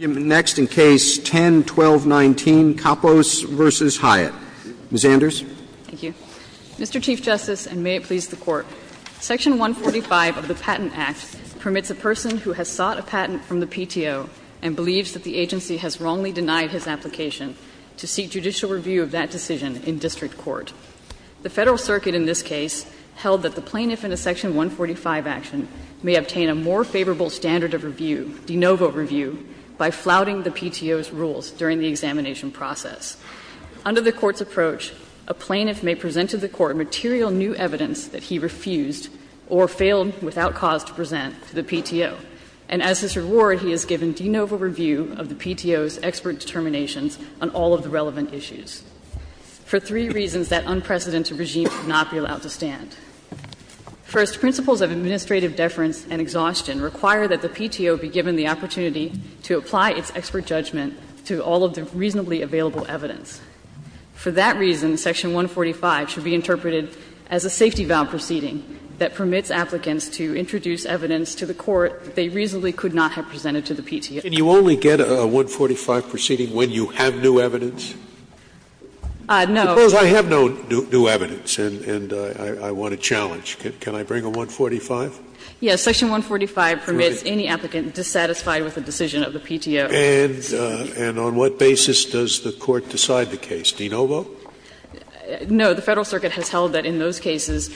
Next in Case 10-1219, Kappos v. Hyatt. Ms. Anders. Thank you. Mr. Chief Justice, and may it please the Court, Section 145 of the Patent Act permits a person who has sought a patent from the PTO and believes that the agency has wrongly denied his application to seek judicial review of that decision in district court. The Federal Circuit in this case held that the plaintiff in a Section 145 action may obtain a more favorable standard of review, de novo review, by flouting the PTO's rules during the examination process. Under the Court's approach, a plaintiff may present to the Court material new evidence that he refused or failed without cause to present to the PTO, and as his reward, he is given de novo review of the PTO's expert determinations on all of the relevant issues for three reasons that unprecedented regimes would not be allowed to stand. First, principles of administrative deference and exhaustion require that the PTO be given the opportunity to apply its expert judgment to all of the reasonably available evidence. For that reason, Section 145 should be interpreted as a safety-bound proceeding that permits applicants to introduce evidence to the Court that they reasonably could not have presented to the PTO. Scalia. Can you only get a 145 proceeding when you have new evidence? No. Scalia. Suppose I have no new evidence and I want to challenge. Can I bring a 145? Yes. Section 145 permits any applicant dissatisfied with a decision of the PTO. And on what basis does the Court decide the case? De novo? No. The Federal Circuit has held that in those cases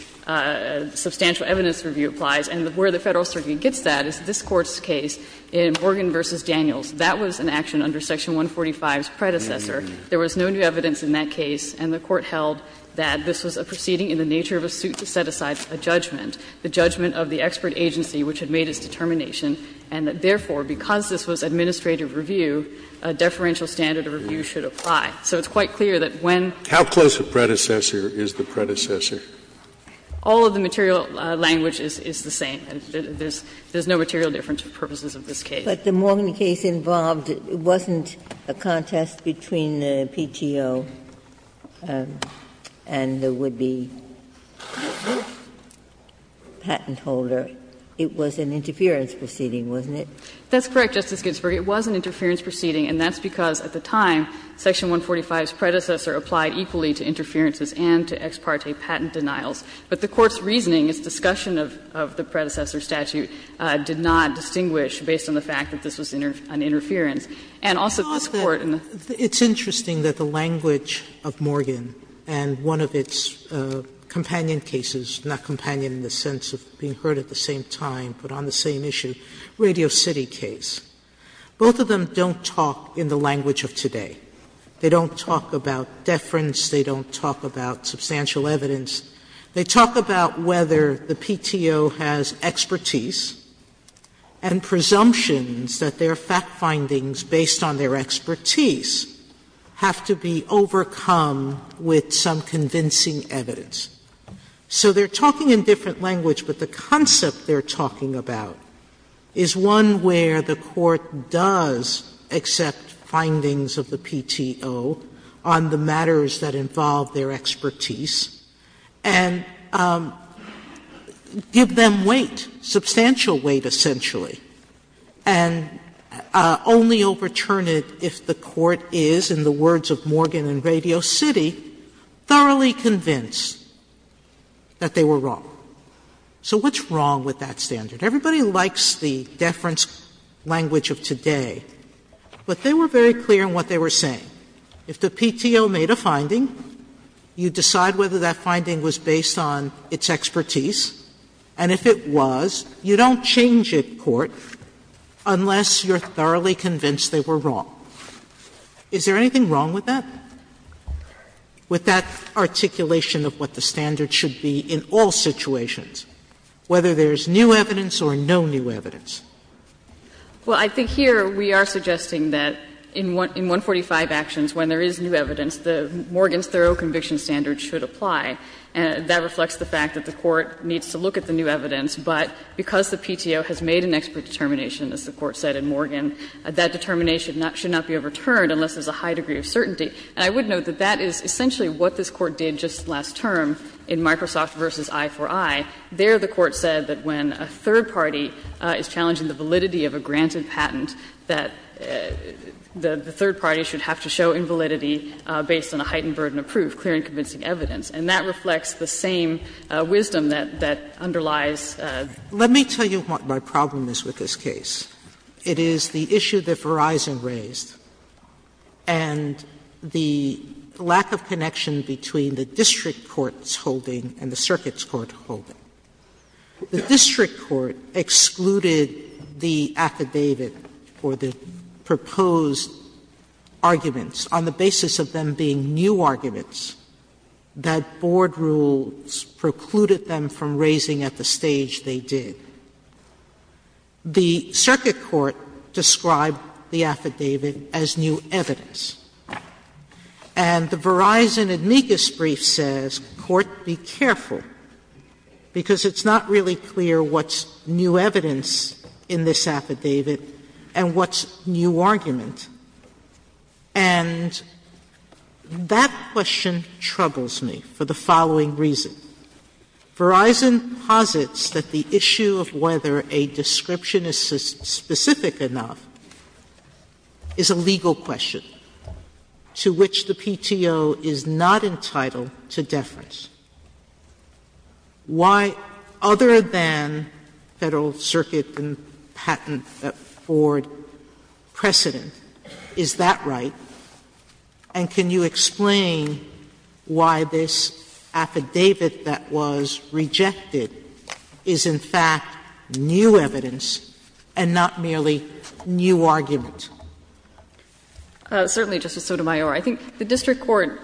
substantial evidence review applies, and where the Federal Circuit gets that is this Court's case in Morgan v. Daniels. That was an action under Section 145's predecessor. There was no new evidence in that case, and the Court held that this was a proceeding in the nature of a suit to set aside a judgment, the judgment of the expert agency which had made its determination, and that, therefore, because this was administrative review, a deferential standard of review should apply. So it's quite clear that when the PTO's predecessor is the predecessor. All of the material language is the same. There's no material difference for purposes of this case. But the Morgan case involved, it wasn't a contest between the PTO and the would-be patent holder. It was an interference proceeding, wasn't it? That's correct, Justice Ginsburg. It was an interference proceeding, and that's because at the time Section 145's predecessor applied equally to interferences and to ex parte patent denials. But the Court's reasoning, its discussion of the predecessor statute did not distinguish based on the fact that this was an interference. And also this Court in the It's interesting that the language of Morgan and one of its companion cases, not companion in the sense of being heard at the same time, but on the same issue, Radio City case, both of them don't talk in the language of today. They don't talk about deference, they don't talk about substantial evidence. They talk about whether the PTO has expertise and presumptions that their fact findings based on their expertise have to be overcome with some convincing evidence. So they're talking in different language, but the concept they're talking about is one where the Court does accept findings of the PTO on the matters that involve their expertise and give them weight, substantial weight essentially, and only overturn it if the Court is, in the words of Morgan and Radio City, thoroughly convinced that they were wrong. So what's wrong with that standard? Everybody likes the deference language of today, but they were very clear in what they were saying. If the PTO made a finding, you decide whether that finding was based on its expertise, and if it was, you don't change it, Court, unless you're thoroughly convinced they were wrong. Is there anything wrong with that, with that articulation of what the standard should be in all situations, whether there's new evidence or no new evidence? Well, I think here we are suggesting that in 145 actions, when there is new evidence, Morgan's thorough conviction standard should apply. That reflects the fact that the Court needs to look at the new evidence, but because the PTO has made an expert determination, as the Court said in Morgan, that determination should not be overturned unless there's a high degree of certainty. And I would note that that is essentially what this Court did just last term in Microsoft v. I4I. There the Court said that when a third party is challenging the validity of a granted patent, that the third party should have to show invalidity based on a heightened burden of proof, clear and convincing evidence. And that reflects the same wisdom that underlies the statute. Sotomayor Let me tell you what my problem is with this case. It is the issue that Verizon raised and the lack of connection between the district court's holding and the circuit's court holding. The district court excluded the affidavit or the proposed arguments on the basis of them being new arguments that board rules precluded them from raising at the stage they did. The circuit court described the affidavit as new evidence. And the Verizon amicus brief says, Court, be careful, because it's not really clear what's new evidence in this affidavit and what's new argument. And that question troubles me for the following reason. Verizon posits that the issue of whether a description is specific enough is a legal question. And the question is, why is there a distinction to which the PTO is not entitled to deference? Why, other than Federal Circuit and patent board precedent, is that right? And can you explain why this affidavit that was rejected is, in fact, new evidence and not merely new argument? Certainly, Justice Sotomayor. I think the district court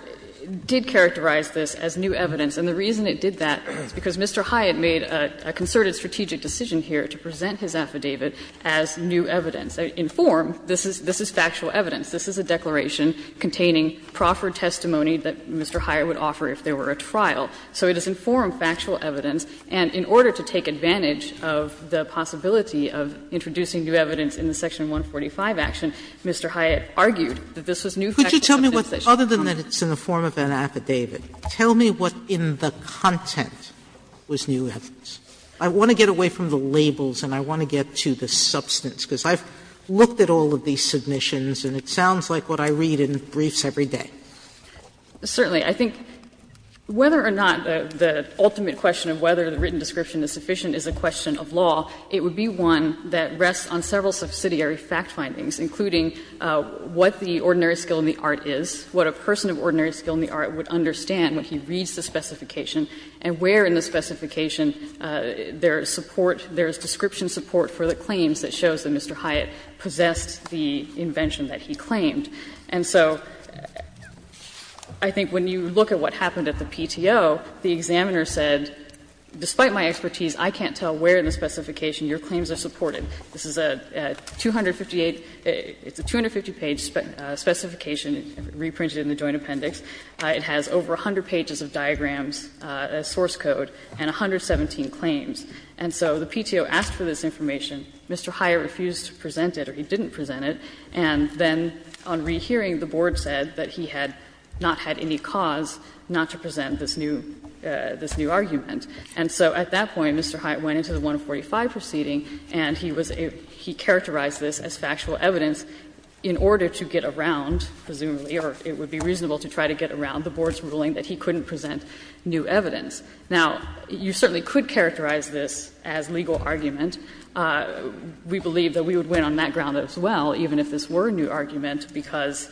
did characterize this as new evidence. And the reason it did that is because Mr. Hyatt made a concerted strategic decision here to present his affidavit as new evidence. In form, this is factual evidence. This is a declaration containing proffered testimony that Mr. Hyatt would offer if there were a trial. So it is in form factual evidence. And in order to take advantage of the possibility of introducing new evidence in the Section 145 action, Mr. Hyatt argued that this was new factual evidence that should be covered. Sotomayor, could you tell me what, other than that it's in the form of an affidavit, tell me what in the content was new evidence. I want to get away from the labels and I want to get to the substance, because I've looked at all of these submissions and it sounds like what I read in briefs every day. Certainly. I think whether or not the ultimate question of whether the written description is sufficient is a question of law, it would be one that rests on several subsidiary fact findings, including what the ordinary skill in the art is, what a person of ordinary skill in the art would understand when he reads the specification and where in the specification there is support, there is description support for the claims that Mr. Hyatt possessed the invention that he claimed. And so I think when you look at what happened at the PTO, the examiner said, despite my expertise, I can't tell where in the specification your claims are supported. This is a 258 — it's a 250-page specification reprinted in the Joint Appendix. It has over 100 pages of diagrams, a source code, and 117 claims. And so the PTO asked for this information. Mr. Hyatt refused to present it, or he didn't present it, and then on rehearing, the board said that he had not had any cause not to present this new argument. And so at that point, Mr. Hyatt went into the 145 proceeding and he was a — he characterized this as factual evidence in order to get around, presumably, or it would be reasonable to try to get around the board's ruling that he couldn't present new evidence. Now, you certainly could characterize this as legal argument. We believe that we would win on that ground as well, even if this were a new argument, because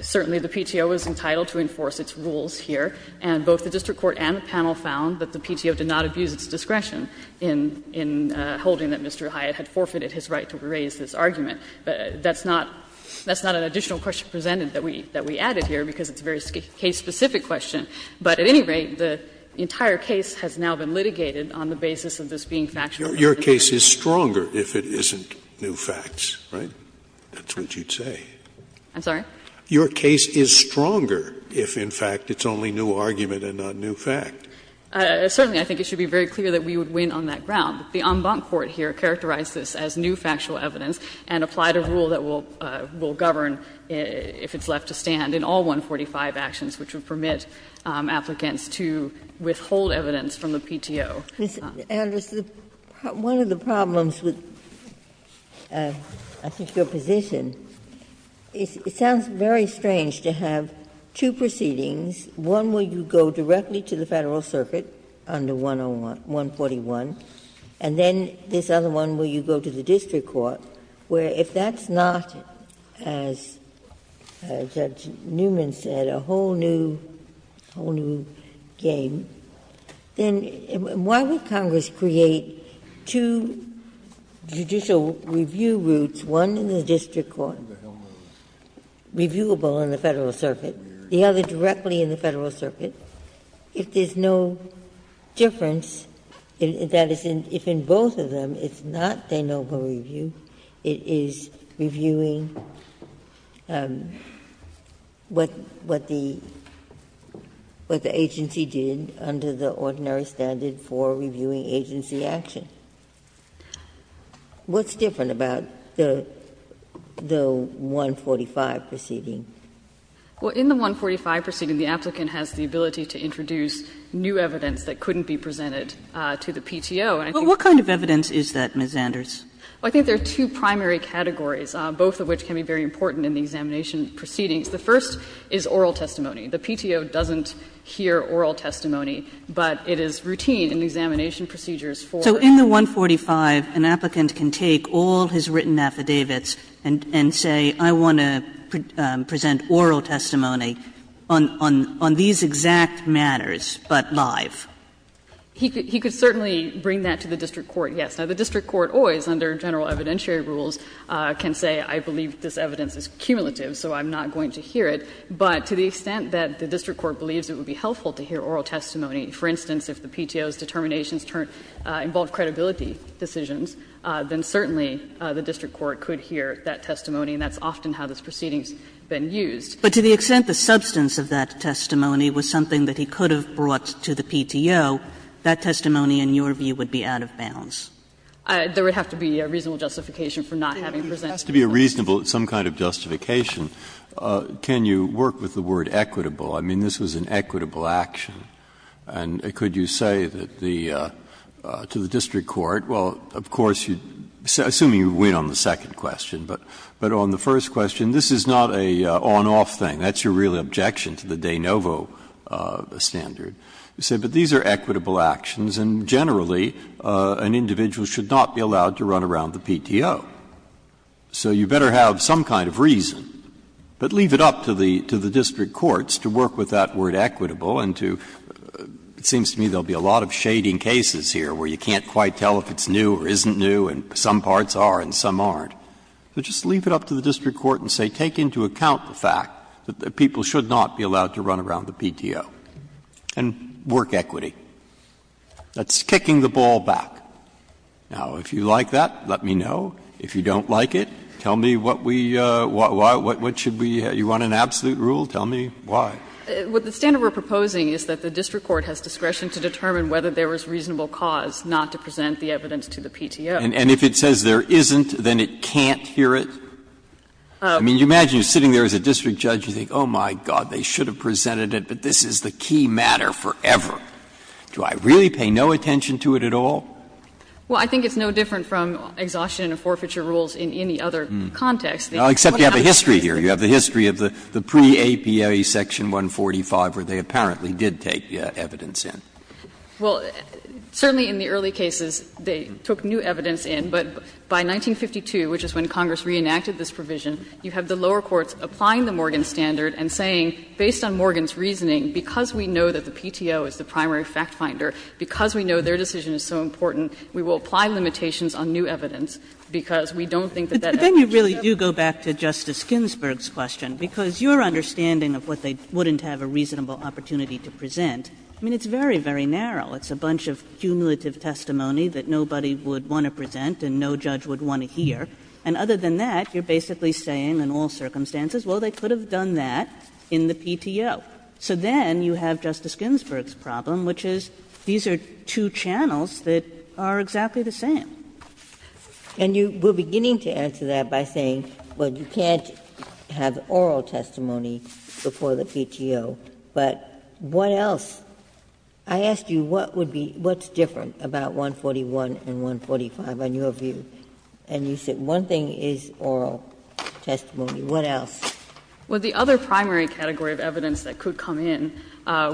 certainly the PTO is entitled to enforce its rules here. And both the district court and the panel found that the PTO did not abuse its discretion in — in holding that Mr. Hyatt had forfeited his right to raise this argument. That's not — that's not an additional question presented that we — that we added here, because it's a very case-specific question. But at any rate, the entire case has now been litigated on the basis of this being factual evidence. Scalia's case is stronger if it isn't new facts, right? That's what you'd say. I'm sorry? Your case is stronger if, in fact, it's only new argument and not new fact. Certainly, I think it should be very clear that we would win on that ground. The en banc court here characterized this as new factual evidence and applied a rule that will govern if it's left to stand in all 145 actions, which would permit applicants to withhold evidence from the PTO. Ginsburg. Ms. Anders, one of the problems with, I think, your position is it sounds very strange to have two proceedings, one where you go directly to the Federal Circuit under 141, and then this other one where you go to the district court, where if that's not, as Judge Newman said, a whole new game, then why would Congress create two judicial review routes, one in the district court, reviewable in the Federal Circuit, the other directly in the Federal Circuit, if there's no difference, that is, if in both of them it's not de novo review, it is reviewing what the agency did under the ordinary standard for reviewing agency action. What's different about the 145 proceeding? Anders' Well, in the 145 proceeding, the applicant has the ability to introduce new evidence that couldn't be presented to the PTO. Kagan What kind of evidence is that, Ms. Anders? Anders' I think there are two primary categories, both of which can be very important in the examination proceedings. The first is oral testimony. The PTO doesn't hear oral testimony, but it is routine in the examination procedures for the PTO. Kagan So in the 145, an applicant can take all his written affidavits and say, I want to present oral testimony on these exact matters, but live. Anders' He could certainly bring that to the district court, yes. Now, the district court always, under general evidentiary rules, can say, I believe this evidence is cumulative, so I'm not going to hear it. But to the extent that the district court believes it would be helpful to hear oral testimony, for instance, if the PTO's determinations involved credibility decisions, then certainly the district court could hear that testimony, and that's often how this proceeding has been used. Kagan But to the extent the substance of that testimony was something that he could have brought to the PTO, that testimony, in your view, would be out of bounds. Anders' There would have to be a reasonable justification for not having presented it. Breyer It has to be a reasonable some kind of justification. Can you work with the word equitable? I mean, this was an equitable action. And could you say that the to the district court, well, of course, assuming you win on the second question, but on the first question, this is not an on-off thing. That's your real objection to the de novo standard. You say, but these are equitable actions, and generally an individual should not be allowed to run around the PTO. So you better have some kind of reason, but leave it up to the district courts to work with that word equitable and to, it seems to me there will be a lot of shading cases here where you can't quite tell if it's new or isn't new, and some parts are and some aren't. So just leave it up to the district court and say take into account the fact that people should not be allowed to run around the PTO and work equity. That's kicking the ball back. Now, if you like that, let me know. If you don't like it, tell me what we, what should we, you want an absolute rule, tell me why. Anders' What the standard we are proposing is that the district court has discretion to determine whether there is reasonable cause not to present the evidence to the PTO. And if it says there isn't, then it can't hear it? I mean, you imagine you are sitting there as a district judge and you think, oh, my God, they should have presented it, but this is the key matter forever. Do I really pay no attention to it at all? Well, I think it's no different from exhaustion and forfeiture rules in any other context. Except you have a history here. You have the history of the pre-APA section 145 where they apparently did take evidence in. Well, certainly in the early cases, they took new evidence in, but by 1952, which is when Congress reenacted this provision, you have the lower courts applying the Morgan standard and saying, based on Morgan's reasoning, because we know that the PTO is the primary fact-finder, because we know their decision is so important, we will apply limitations on new evidence, because we don't think that that evidence should be presented. And to go back to Justice Ginsburg's question, because your understanding of what they wouldn't have a reasonable opportunity to present, I mean, it's very, very narrow. It's a bunch of cumulative testimony that nobody would want to present and no judge would want to hear, and other than that, you are basically saying in all circumstances, well, they could have done that in the PTO. So then you have Justice Ginsburg's problem, which is these are two channels that are exactly the same. And you were beginning to answer that by saying, well, you can't have oral testimony before the PTO, but what else? I asked you what would be, what's different about 141 and 145 on your view, and you said one thing is oral testimony, what else? Well, the other primary category of evidence that could come in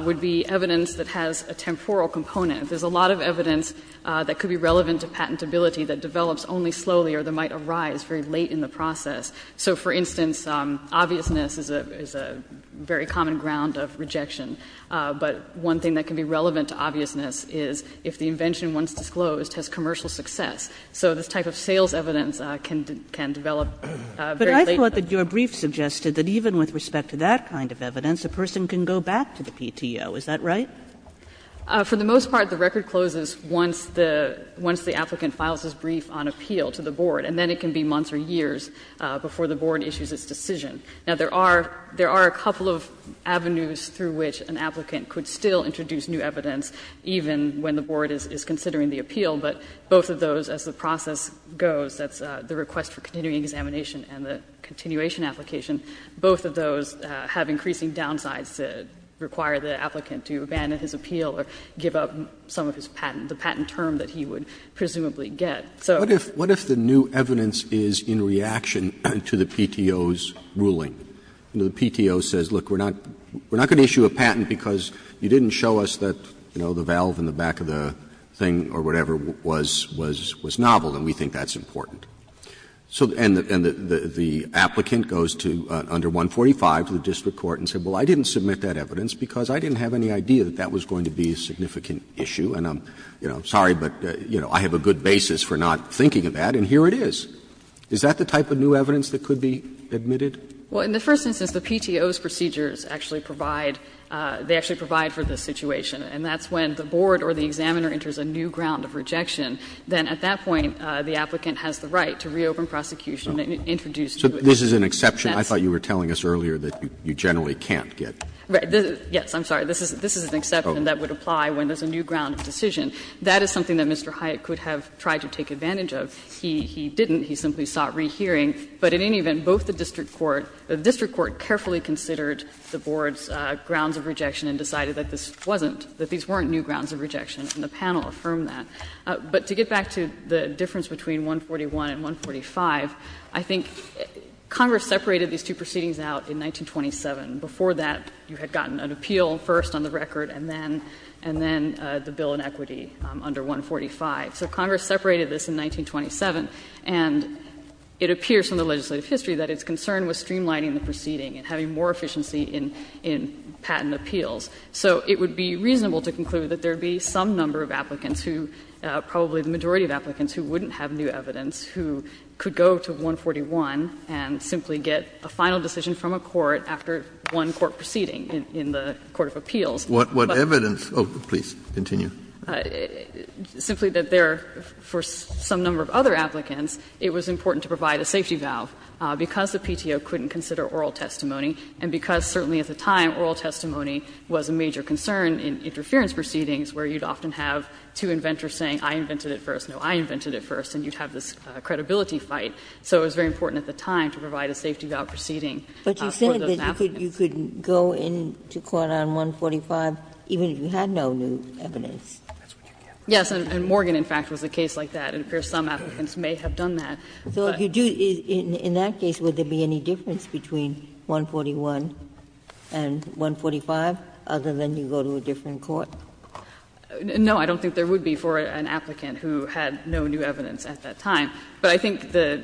would be evidence that has a temporal component. There's a lot of evidence that could be relevant to patentability that develops only slowly or that might arise very late in the process. So, for instance, obviousness is a very common ground of rejection. But one thing that can be relevant to obviousness is if the invention, once disclosed, has commercial success. So this type of sales evidence can develop very late. Kagan. But I thought that your brief suggested that even with respect to that kind of evidence, a person can go back to the PTO. Is that right? For the most part, the record closes once the applicant files his brief on appeal to the board, and then it can be months or years before the board issues its decision. Now, there are a couple of avenues through which an applicant could still introduce new evidence, even when the board is considering the appeal, but both of those, as the process goes, that's the request for continuing examination and the continuation application, both of those have increasing downsides that require the applicant to abandon his appeal or give up some of his patent, the patent term that he would presumably get. So. Roberts, what if the new evidence is in reaction to the PTO's ruling? The PTO says, look, we're not going to issue a patent because you didn't show us that, you know, the valve in the back of the thing or whatever was novel, and we think that's important. And the applicant goes to, under 145, to the district court and says, well, I didn't submit that evidence because I didn't have any idea that that was going to be a significant issue, and I'm, you know, sorry, but, you know, I have a good basis for not thinking of that, and here it is. Is that the type of new evidence that could be admitted? Well, in the first instance, the PTO's procedures actually provide, they actually provide for the situation, and that's when the board or the examiner enters a new ground of rejection. Then at that point, the applicant has the right to reopen prosecution and introduce new evidence. This is an exception I thought you were telling us earlier that you generally can't get. Yes, I'm sorry. This is an exception that would apply when there's a new ground of decision. That is something that Mr. Hyatt could have tried to take advantage of. He didn't. He simply sought rehearing. But in any event, both the district court, the district court carefully considered the board's grounds of rejection and decided that this wasn't, that these weren't new grounds of rejection, and the panel affirmed that. But to get back to the difference between 141 and 145, I think Congress separated these two proceedings out in 1927. Before that, you had gotten an appeal first on the record, and then the bill in equity under 145. So Congress separated this in 1927, and it appears from the legislative history that its concern was streamlining the proceeding and having more efficiency in patent appeals. So it would be reasonable to conclude that there would be some number of applicants who, probably the majority of applicants who wouldn't have new evidence, who could go to 141 and simply get a final decision from a court after one court proceeding in the court of appeals. But the point is that there was a safety valve because the PTO couldn't consider oral testimony, and because, certainly at the time, oral testimony was not considered a safety valve. There was a major concern in interference proceedings where you'd often have two inventors saying, I invented it first, no, I invented it first, and you'd have this credibility fight. So it was very important at the time to provide a safety valve proceeding. Ginsburg. But you said that you could go in to court on 145 even if you had no new evidence. Yes, and Morgan, in fact, was a case like that, and it appears some applicants may have done that. So if you do, in that case, would there be any difference between 141 and 145? Other than you go to a different court? No, I don't think there would be for an applicant who had no new evidence at that time. But I think the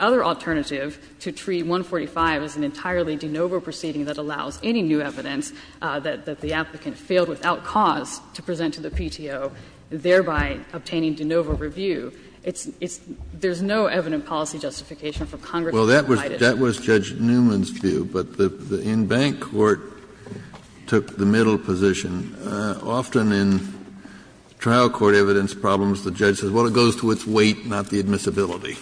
other alternative to tree 145 is an entirely de novo proceeding that allows any new evidence that the applicant failed without cause to present to the PTO, thereby obtaining de novo review. It's not evident policy justification from Congress to provide it. That was Judge Newman's view, but the in-bank court took the middle position. Often in trial court evidence problems, the judge says, well, it goes to its weight, not the admissibility.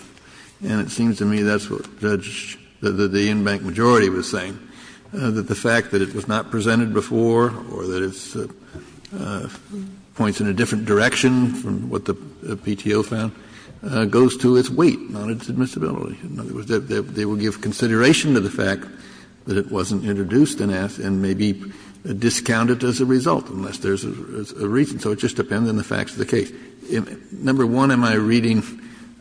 And it seems to me that's what Judge the in-bank majority was saying, that the fact that it was not presented before or that it's points in a different direction from what the PTO found goes to its weight, not its admissibility. In other words, they will give consideration to the fact that it wasn't introduced and may be discounted as a result, unless there's a reason. So it just depends on the facts of the case. Number one, am I reading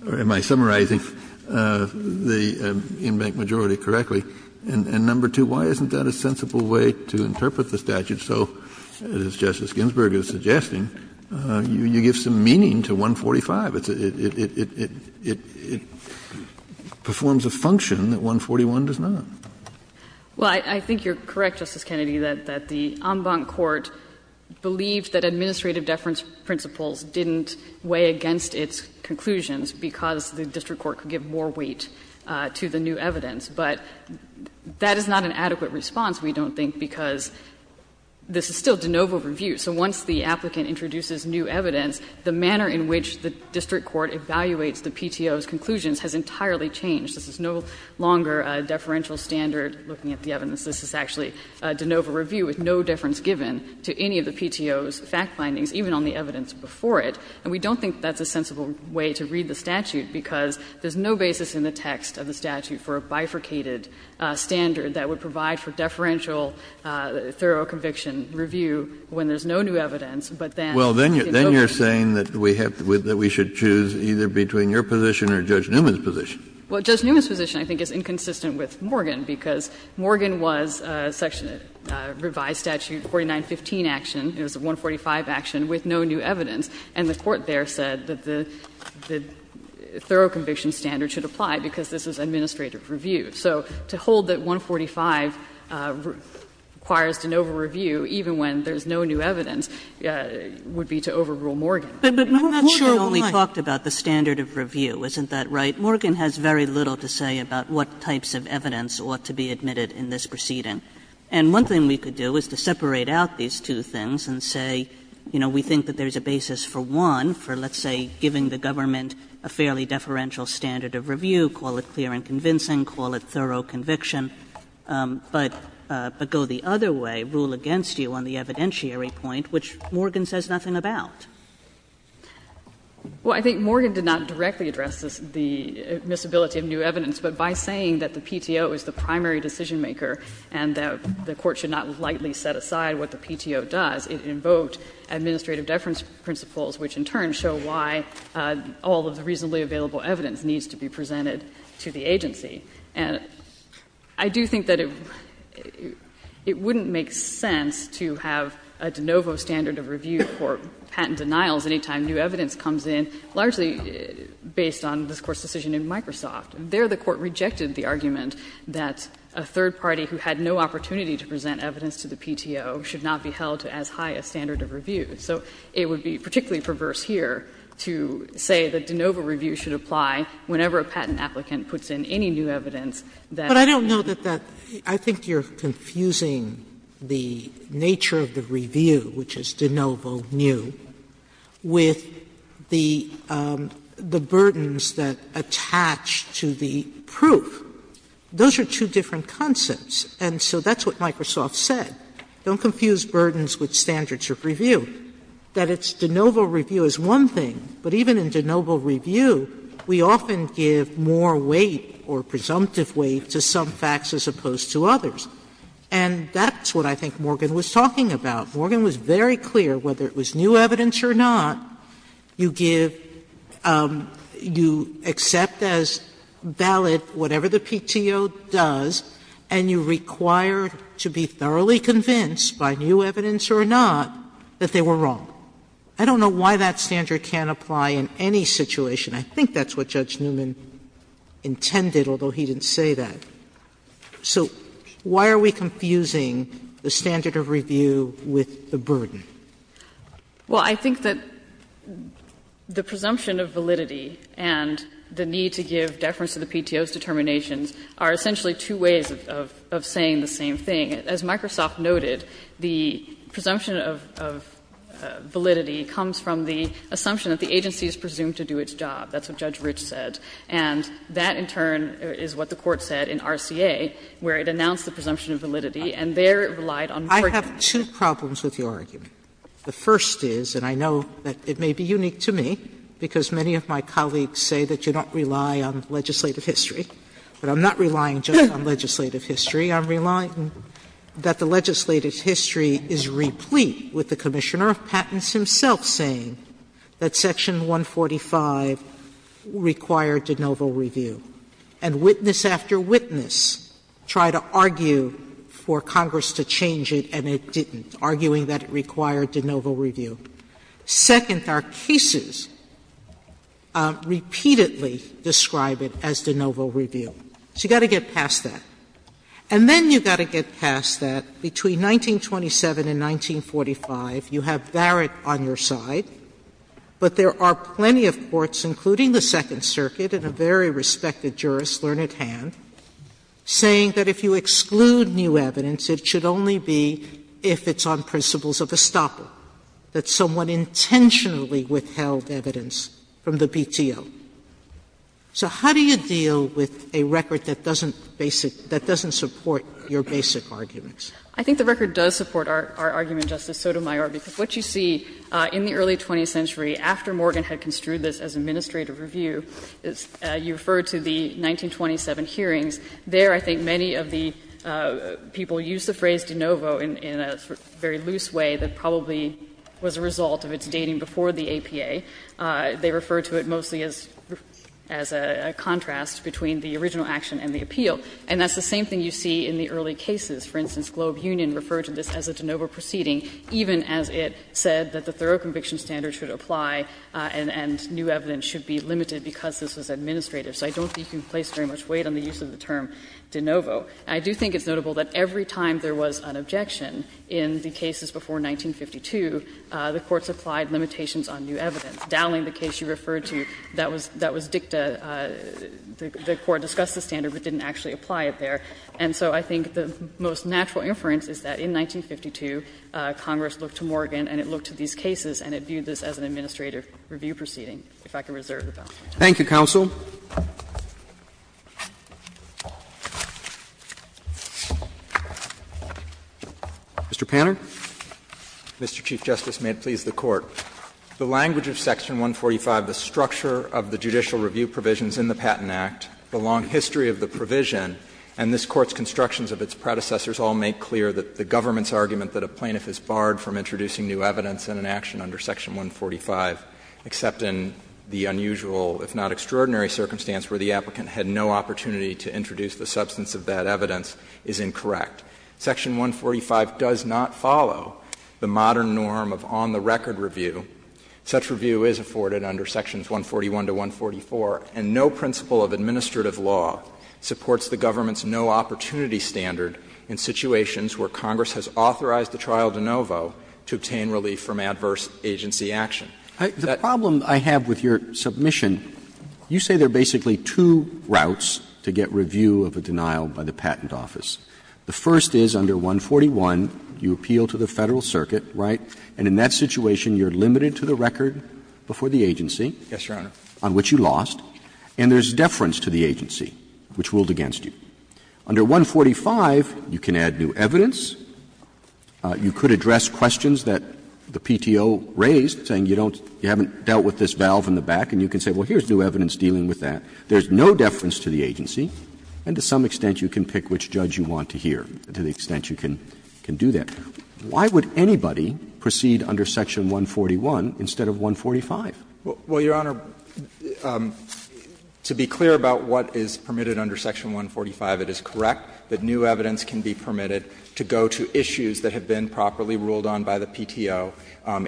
or am I summarizing the in-bank majority correctly? And number two, why isn't that a sensible way to interpret the statute? So, as Justice Ginsburg is suggesting, you give some meaning to 145. It performs a function that 141 does not. Well, I think you're correct, Justice Kennedy, that the in-bank court believed that administrative deference principles didn't weigh against its conclusions because the district court could give more weight to the new evidence. But that is not an adequate response, we don't think, because this is still de novo review. So once the applicant introduces new evidence, the manner in which the district court evaluates the PTO's conclusions has entirely changed. This is no longer a deferential standard looking at the evidence. This is actually de novo review with no difference given to any of the PTO's fact findings, even on the evidence before it. And we don't think that's a sensible way to read the statute because there's no basis in the text of the statute for a bifurcated standard that would provide for deferential thorough conviction review when there's no new evidence, but then it's de novo review. Kennedy, Well, then you're saying that we have to choose either between your position or Judge Newman's position. Well, Judge Newman's position I think is inconsistent with Morgan because Morgan was a section, a revised statute, 4915 action, it was a 145 action with no new evidence, and the court there said that the thorough conviction standard should apply because this is administrative review. So to hold that 145 requires de novo review, even when there's no new evidence, would be to overrule Morgan. Kagan, But Morgan only talked about the standard of review, isn't that right? Morgan has very little to say about what types of evidence ought to be admitted in this proceeding. And one thing we could do is to separate out these two things and say, you know, we think that there's a basis for one, for let's say giving the government a fairly deferential standard of review, call it clear and convincing, call it thorough conviction, but go the other way, rule against you on the evidentiary point, which Morgan says nothing about. Well, I think Morgan did not directly address the misability of new evidence. But by saying that the PTO is the primary decisionmaker and that the court should not lightly set aside what the PTO does, it invoked administrative deference principles, which in turn show why all of the reasonably available evidence needs to be presented to the agency. And I do think that it wouldn't make sense to have a de novo standard of review for patent denials any time new evidence comes in, largely based on this Court's decision in Microsoft. There the Court rejected the argument that a third party who had no opportunity to present evidence to the PTO should not be held to as high a standard of review. So it would be particularly perverse here to say that de novo review should apply whenever a patent applicant puts in any new evidence that they have. Sotomayor, I think you're confusing the nature of the review, which is de novo new, with the burdens that attach to the proof. Those are two different concepts, and so that's what Microsoft said. Don't confuse burdens with standards of review. That it's de novo review is one thing, but even in de novo review, we often give more weight or presumptive weight to some facts as opposed to others. And that's what I think Morgan was talking about. Morgan was very clear, whether it was new evidence or not, you give you accept as valid whatever the PTO does, and you require to be thoroughly convinced by new evidence or not that they were wrong. I don't know why that standard can't apply in any situation. I think that's what Judge Newman intended, although he didn't say that. So why are we confusing the standard of review with the burden? Well, I think that the presumption of validity and the need to give deference to the PTO's determinations are essentially two ways of saying the same thing. As Microsoft noted, the presumption of validity comes from the assumption that the agency is presumed to do its job. That's what Judge Rich said. And that, in turn, is what the Court said in RCA, where it announced the presumption of validity, and there it relied on proving it. Sotomayor, I have two problems with your argument. The first is, and I know that it may be unique to me, because many of my colleagues say that you don't rely on legislative history. But I'm not relying just on legislative history. I'm relying that the legislative history is replete with the Commissioner of Patents himself saying that Section 145 required de novo review, and witness after witness tried to argue for Congress to change it, and it didn't, arguing that it required de novo review. Second, our cases repeatedly describe it as de novo review. So you've got to get past that. And then you've got to get past that, between 1927 and 1945, you have Barrett on your side, but there are plenty of courts, including the Second Circuit and a very respected jurist, Learned Hand, saying that if you exclude new evidence, it should only be if it's on principles of estoppel, that someone intentionally withheld evidence from the BTO. So how do you deal with a record that doesn't basic — that doesn't support your basic arguments? I think the record does support our argument, Justice Sotomayor, because what you see in the early 20th century, after Morgan had construed this as administrative review, you refer to the 1927 hearings. There, I think, many of the people used the phrase de novo in a very loose way that probably was a result of its dating before the APA. They referred to it mostly as a contrast between the original action and the appeal. And that's the same thing you see in the early cases. For instance, Globe Union referred to this as a de novo proceeding, even as it said that the thorough conviction standard should apply and new evidence should be limited because this was administrative. So I don't think you can place very much weight on the use of the term de novo. I do think it's notable that every time there was an objection in the cases before 1952, the courts applied limitations on new evidence. Dowling, the case you referred to, that was dicta. The Court discussed the standard but didn't actually apply it there. And so I think the most natural inference is that in 1952, Congress looked to Morgan and it looked at these cases and it viewed this as an administrative review proceeding, Roberts. Thank you, counsel. Mr. Panner. Mr. Chief Justice, may it please the Court. The language of Section 145, the structure of the judicial review provisions in the Patent Act, the long history of the provision, and this Court's constructions of its predecessors all make clear that the government's argument that a plaintiff is barred from introducing new evidence in an action under Section 145, except in the unusual, if not extraordinary, circumstance where the applicant had no opportunity to introduce the substance of that evidence, is incorrect. Section 145 does not follow the modern norm of on-the-record review. Such review is afforded under Sections 141 to 144, and no principle of administrative law supports the government's no-opportunity standard in situations where Congress has authorized the trial de novo to obtain relief from adverse agency action. The problem I have with your submission, you say there are basically two routes to get review of a denial by the Patent Office. The first is under 141, you appeal to the Federal Circuit, right, and in that situation you are limited to the record before the agency. Yes, Your Honor. On which you lost. And there is deference to the agency, which ruled against you. Under 145, you can add new evidence. You could address questions that the PTO raised, saying you don't, you haven't dealt with this valve in the back, and you can say, well, here's new evidence dealing with that. There is no deference to the agency, and to some extent you can pick which judge you want to hear, to the extent you can do that. Why would anybody proceed under Section 141 instead of 145? Well, Your Honor, to be clear about what is permitted under Section 145, it is correct that new evidence can be permitted to go to issues that have been properly ruled on by the PTO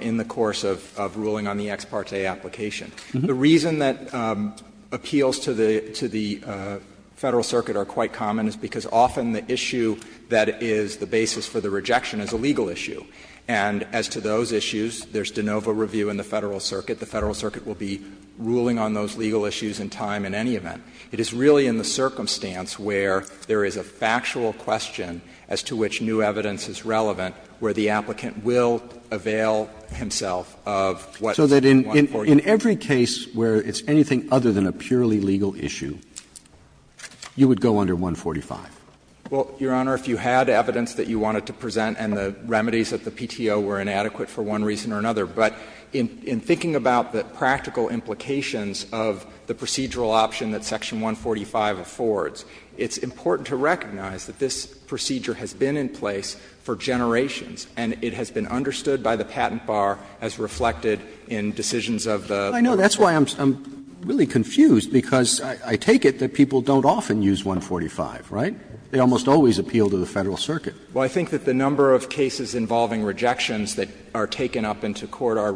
in the course of ruling on the ex parte application. The reason that appeals to the Federal Circuit are quite common is because often the issue that is the basis for the rejection is a legal issue. And as to those issues, there is de novo review in the Federal Circuit. The Federal Circuit will be ruling on those legal issues in time in any event. It is really in the circumstance where there is a factual question as to which new evidence is relevant where the applicant will avail himself of what 141. So that in every case where it's anything other than a purely legal issue, you would go under 145? Well, Your Honor, if you had evidence that you wanted to present and the remedies of the PTO were inadequate for one reason or another, but in thinking about the practical implications of the procedural option that Section 145 affords, it's important to recognize that this procedure has been in place for generations, and it has been understood by the patent bar as reflected in decisions of the court. I know that's why I'm really confused, because I take it that people don't often use 145, right? They almost always appeal to the Federal Circuit. Well, I think that the number of cases involving rejections that are taken up into the PTO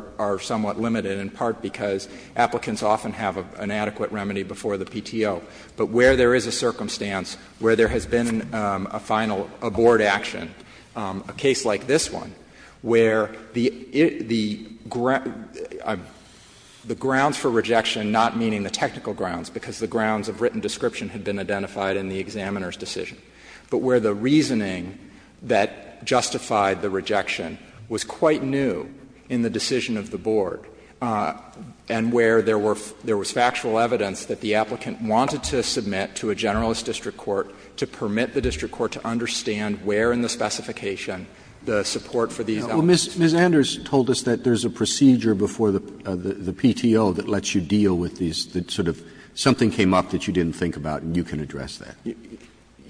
is limited in part because applicants often have an adequate remedy before the PTO, but where there is a circumstance where there has been a final, a board action, a case like this one, where the grounds for rejection, not meaning the technical grounds, because the grounds of written description had been identified in the examiner's decision, but where the reasoning that justified the rejection was quite new in the board, and where there were — there was factual evidence that the applicant wanted to submit to a generalist district court to permit the district court to understand where in the specification the support for these elements was. Well, Ms. Anders told us that there's a procedure before the PTO that lets you deal with these, that sort of something came up that you didn't think about, and you can address that.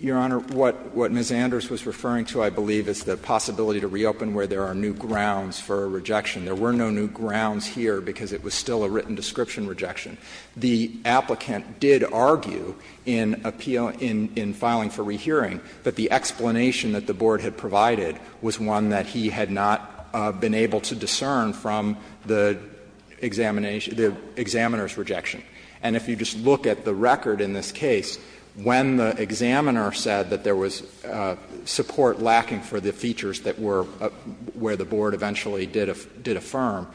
Your Honor, what Ms. Anders was referring to, I believe, is the possibility to reopen where there are new grounds for a rejection. There were no new grounds here because it was still a written description rejection. The applicant did argue in appeal — in filing for rehearing that the explanation that the board had provided was one that he had not been able to discern from the examination — the examiner's rejection. And if you just look at the record in this case, when the examiner said that there was support lacking for the features that were — where the board eventually did affirm,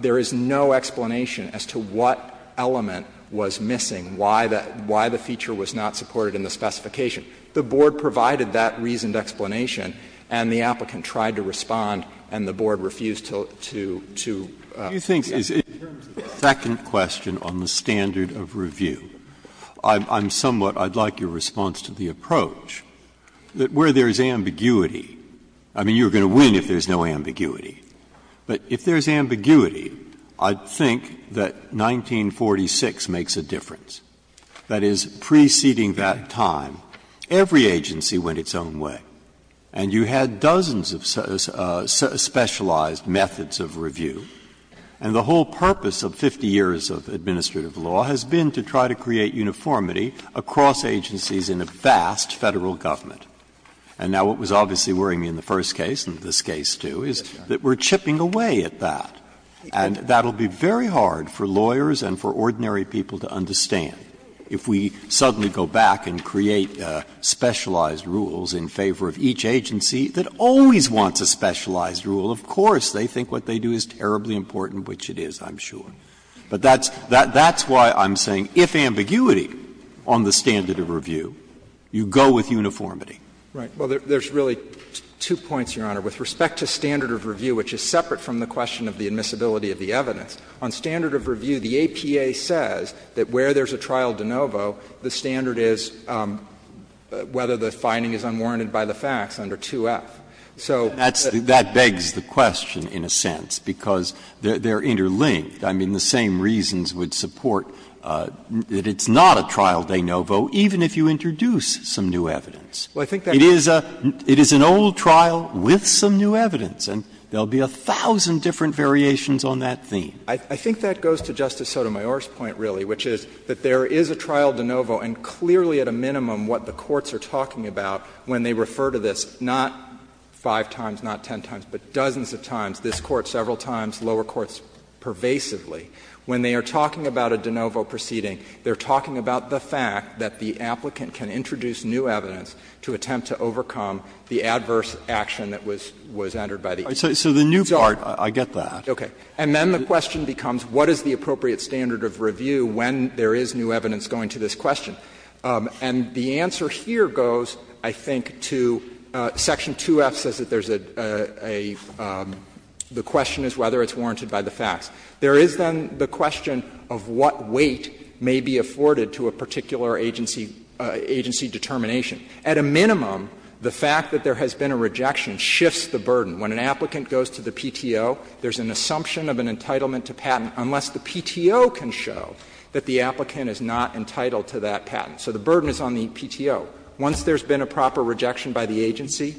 there is no explanation as to what element was missing, why the feature was not supported in the specification. The board provided that reasoned explanation, and the applicant tried to respond, and the board refused to — to — Breyer. Do you think, in terms of the second question on the standard of review, I'm somewhat — I'd like your response to the approach, that where there is ambiguity — I mean, you're going to win if there's no ambiguity — but if there's ambiguity, I'd think that 1946 makes a difference. That is, preceding that time, every agency went its own way, and you had dozens of specialized methods of review. And the whole purpose of 50 years of administrative law has been to try to create uniformity across agencies in a vast Federal government. And now, what was obviously worrying me in the first case, and this case, too, is that we're chipping away at that. And that will be very hard for lawyers and for ordinary people to understand if we suddenly go back and create specialized rules in favor of each agency that always wants a specialized rule. Of course, they think what they do is terribly important, which it is, I'm sure. But that's — that's why I'm saying, if ambiguity on the standard of review, you go with uniformity. Right. Well, there's really two points, Your Honor. With respect to standard of review, which is separate from the question of the admissibility of the evidence, on standard of review, the APA says that where there's a trial de novo, the standard is whether the finding is unwarranted by the facts under 2F. So that's the— That begs the question, in a sense, because they're interlinked. I mean, the same reasons would support that it's not a trial de novo, even if you introduce some new evidence. It is a — it is an old trial with some new evidence, and there will be a thousand different variations on that theme. I think that goes to Justice Sotomayor's point, really, which is that there is a trial de novo, and clearly, at a minimum, what the courts are talking about when they refer to this, not five times, not ten times, but dozens of times, this Court several times, lower courts pervasively, when they are talking about a de novo proceeding, they are talking about the fact that the applicant can introduce new evidence to attempt to overcome the adverse action that was entered by the APA. So the new part, I get that. Okay. And then the question becomes what is the appropriate standard of review when there is new evidence going to this question. And the answer here goes, I think, to section 2F says that there's a — the question is whether it's warranted by the facts. There is, then, the question of what weight may be afforded to a particular agency — agency determination. At a minimum, the fact that there has been a rejection shifts the burden. When an applicant goes to the PTO, there's an assumption of an entitlement to patent unless the PTO can show that the applicant is not entitled to that patent. So the burden is on the PTO. Once there's been a proper rejection by the agency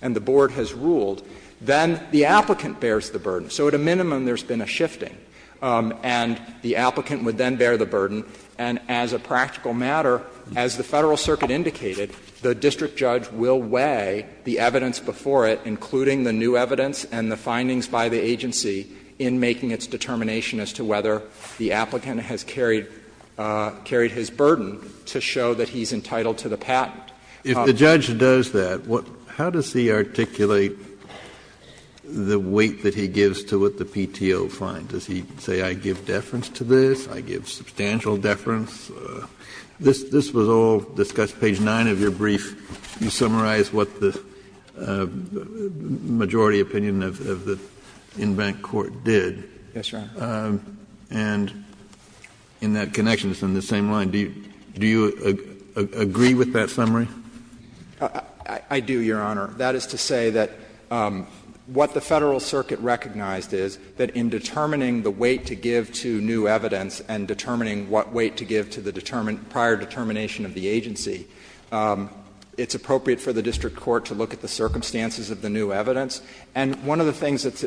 and the board has ruled, then the applicant bears the burden. So at a minimum, there's been a shifting, and the applicant would then bear the burden. And as a practical matter, as the Federal Circuit indicated, the district judge will weigh the evidence before it, including the new evidence and the findings by the agency, in making its determination as to whether the applicant has carried — carried his burden to show that he's entitled to the patent. Kennedy, if the judge does that, what — how does he articulate the weight that he gives to what the PTO finds? Does he say, I give deference to this, I give substantial deference? This — this was all discussed. Page 9 of your brief, you summarize what the majority opinion of the in-bank court did. Yes, Your Honor. And in that connection, it's on the same line. Do you — do you agree with that summary? I do, Your Honor. That is to say that what the Federal Circuit recognized is, that in determining the weight to give to new evidence and determining what weight to give to the prior determination of the agency, it's appropriate for the district court to look at the circumstances of the new evidence. And one of the things that's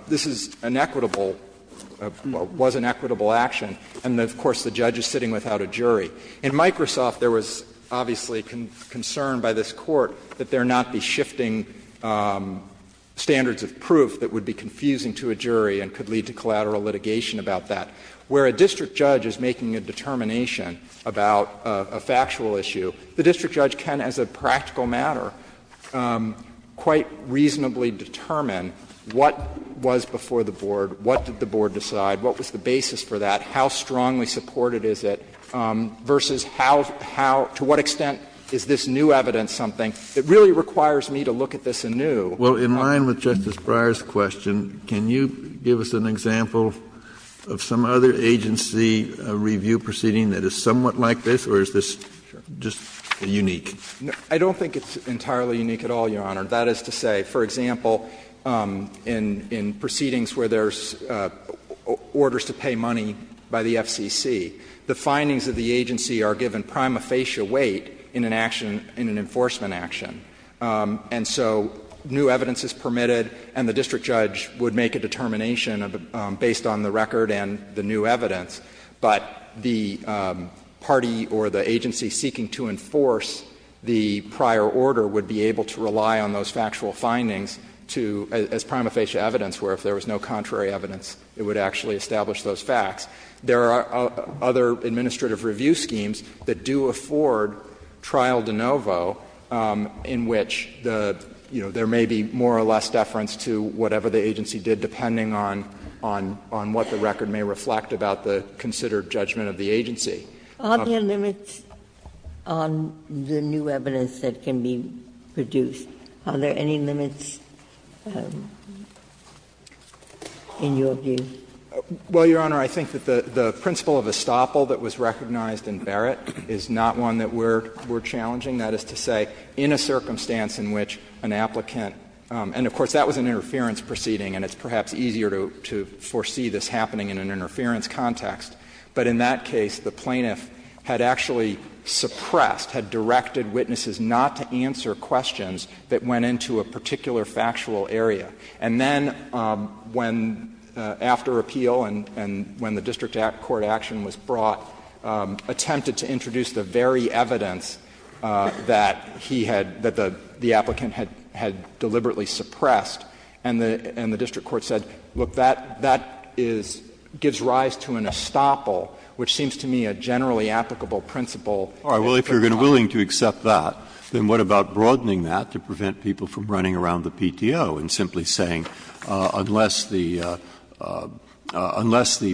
— this is an equitable — was an equitable action, and, of course, the judge is sitting without a jury. In Microsoft, there was obviously concern by this Court that there not be shifting standards of proof that would be confusing to a jury and could lead to collateral litigation about that. Where a district judge is making a determination about a factual issue, the district judge can, as a practical matter, quite reasonably determine what was before the board, what did the board decide, what was the basis for that, how strongly supported is it, versus how — to what extent is this new evidence something that really requires me to look at this anew. Well, in line with Justice Breyer's question, can you give us an example of some other agency review proceeding that is somewhat like this, or is this just unique? I don't think it's entirely unique at all, Your Honor. That is to say, for example, in proceedings where there's orders to pay money by the FCC, the findings of the agency are given prima facie weight in an action — in an enforcement action. And so new evidence is permitted, and the district judge would make a determination based on the record and the new evidence. But the party or the agency seeking to enforce the prior order would be able to rely on those factual findings to — as prima facie evidence, where if there was no contrary evidence, it would actually establish those facts. There are other administrative review schemes that do afford trial de novo in which the — you know, there may be more or less deference to whatever the agency did, depending on what the record may reflect about the considered judgment of the agency. Are there limits on the new evidence that can be produced? Are there any limits in your view? Well, Your Honor, I think that the principle of estoppel that was recognized in Barrett is not one that we're challenging. That is to say, in a circumstance in which an applicant — and of course, that was an interference proceeding, and it's perhaps easier to foresee this happening in an interference context. But in that case, the plaintiff had actually suppressed, had directed witnesses not to answer questions that went into a particular factual area. And then when — after appeal and when the district court action was brought, attempted to introduce the very evidence that he had — that the applicant had deliberately suppressed, and the district court said, look, that is — gives rise to an estoppel which seems to me a generally applicable principle. Breyer, if you're willing to accept that, then what about broadening that to prevent people from running around the PTO and simply saying, unless the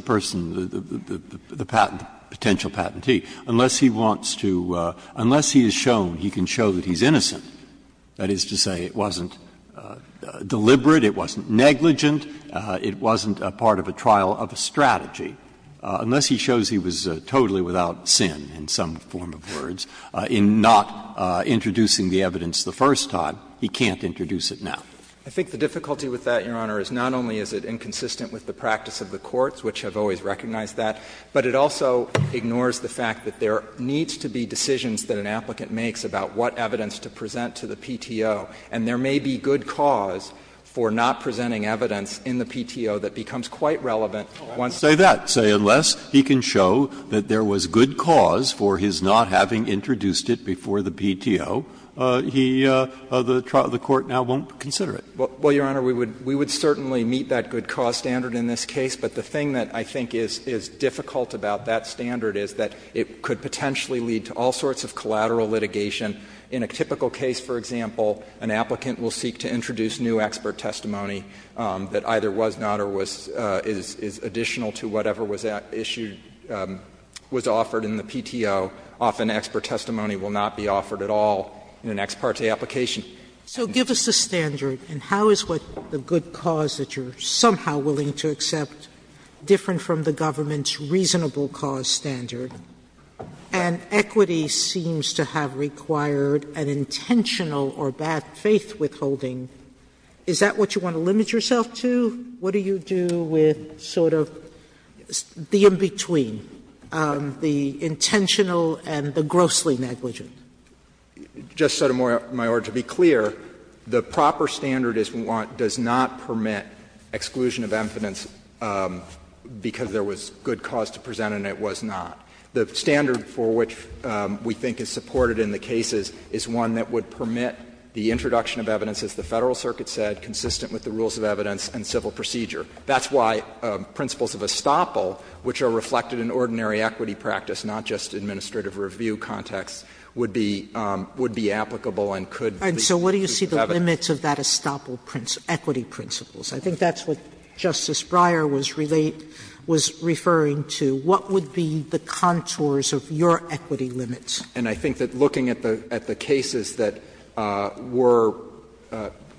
person, the patent — the potential patentee, unless he wants to — unless he is shown, he can show that he's innocent, that is to say, it wasn't deliberate, it wasn't negligent, it wasn't a part of a trial of a strategy, unless he is shown that he's innocent. Unless he shows he was totally without sin, in some form of words, in not introducing the evidence the first time, he can't introduce it now. I think the difficulty with that, Your Honor, is not only is it inconsistent with the practice of the courts, which have always recognized that, but it also ignores the fact that there needs to be decisions that an applicant makes about what evidence to present to the PTO. And there may be good cause for not presenting evidence in the PTO that becomes quite relevant once. Breyer, I would say that, say, unless he can show that there was good cause for his not having introduced it before the PTO, he — the court now won't consider it. Well, Your Honor, we would certainly meet that good cause standard in this case. But the thing that I think is difficult about that standard is that it could potentially lead to all sorts of collateral litigation. In a typical case, for example, an applicant will seek to introduce new expert testimony that either was not or was — is additional to whatever was issued — was offered in the PTO. Often, expert testimony will not be offered at all in an ex parte application. Sotomayor, so give us the standard, and how is what the good cause that you're somehow willing to accept different from the government's reasonable cause standard? And equity seems to have required an intentional or bad faith withholding. Is that what you want to limit yourself to? What do you do with sort of the in-between, the intentional and the grossly negligent? Just, Sotomayor, to be clear, the proper standard is what does not permit exclusion of evidence because there was good cause to present and it was not. The standard for which we think is supported in the cases is one that would permit the introduction of evidence, as the Federal Circuit said, consistent with the rules of evidence and civil procedure. That's why principles of estoppel, which are reflected in ordinary equity practice, not just administrative review context, would be applicable and could be used as evidence. Sotomayor, so what do you see the limits of that estoppel equity principles? I think that's what Justice Breyer was referring to. What would be the contours of your equity limits? And I think that looking at the cases that were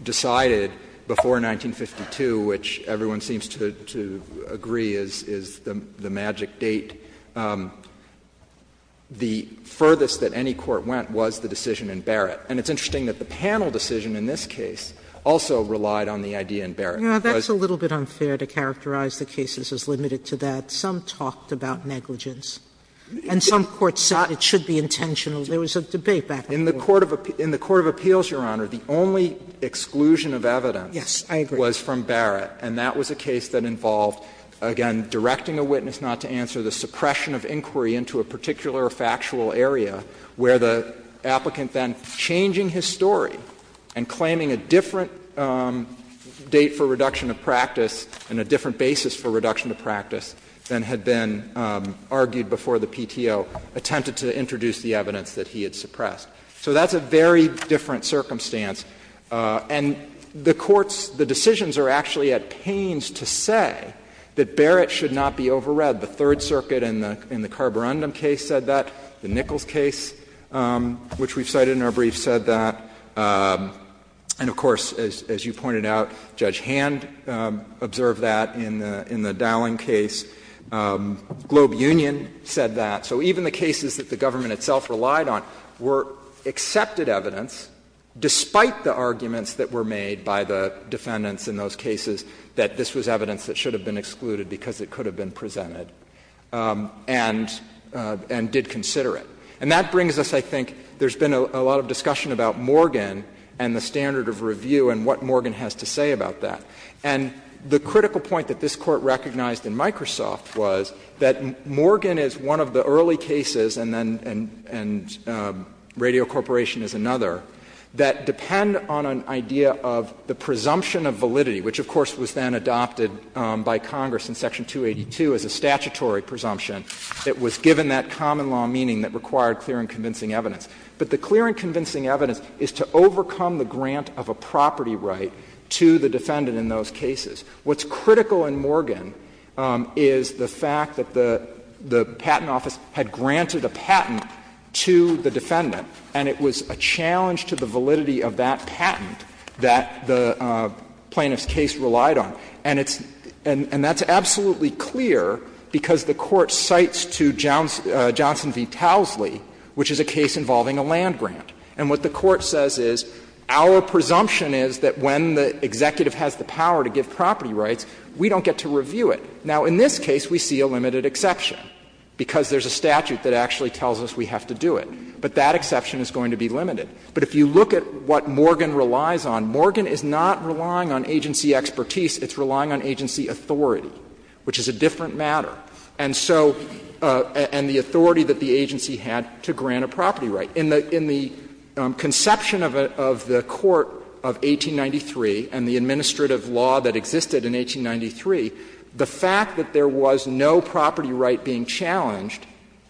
decided before 1952, which everyone seems to agree is the magic date, the furthest that any court went was the decision in Barrett. And it's interesting that the panel decision in this case also relied on the idea in Barrett. Sotomayor, that's a little bit unfair to characterize the cases as limited to that. Some talked about negligence. And some courts thought it should be intentional. There was a debate back then. In the court of appeals, Your Honor, the only exclusion of evidence was from Barrett. And that was a case that involved, again, directing a witness not to answer, the suppression of inquiry into a particular factual area where the applicant then changing his story and claiming a different date for reduction of practice and a different basis for reduction of practice than had been argued before the PTO attempted to introduce the evidence that he had suppressed. So that's a very different circumstance. And the courts, the decisions are actually at pains to say that Barrett should not be overread. The Third Circuit in the Carborundum case said that. The Nichols case, which we've cited in our brief, said that. And of course, as you pointed out, Judge Hand observed that in the Dowling case. Globe Union said that. So even the cases that the government itself relied on were accepted evidence, despite the arguments that were made by the defendants in those cases that this was evidence that should have been excluded because it could have been presented and did consider it. And that brings us, I think, there's been a lot of discussion about Morgan and the standard of review and what Morgan has to say about that. And the critical point that this Court recognized in Microsoft was that Morgan is one of the early cases, and then — and Radio Corporation is another, that depend on an idea of the presumption of validity, which, of course, was then adopted by Congress in Section 282 as a statutory presumption that was given that common law meaning that required clear and convincing evidence. But the clear and convincing evidence is to overcome the grant of a property right to the defendant in those cases. What's critical in Morgan is the fact that the patent office had granted a patent to the defendant, and it was a challenge to the validity of that patent that the plaintiff's case relied on. And it's — and that's absolutely clear because the Court cites to Johnson v. Towsley, which is a case involving a land grant. And what the Court says is, our presumption is that when the executive has the power to give property rights, we don't get to review it. Now, in this case, we see a limited exception because there's a statute that actually tells us we have to do it. But that exception is going to be limited. But if you look at what Morgan relies on, Morgan is not relying on agency expertise. It's relying on agency authority, which is a different matter. And so — and the authority that the agency had to grant a property right. In the conception of the Court of 1893 and the administrative law that existed in 1893, the fact that there was no property right being challenged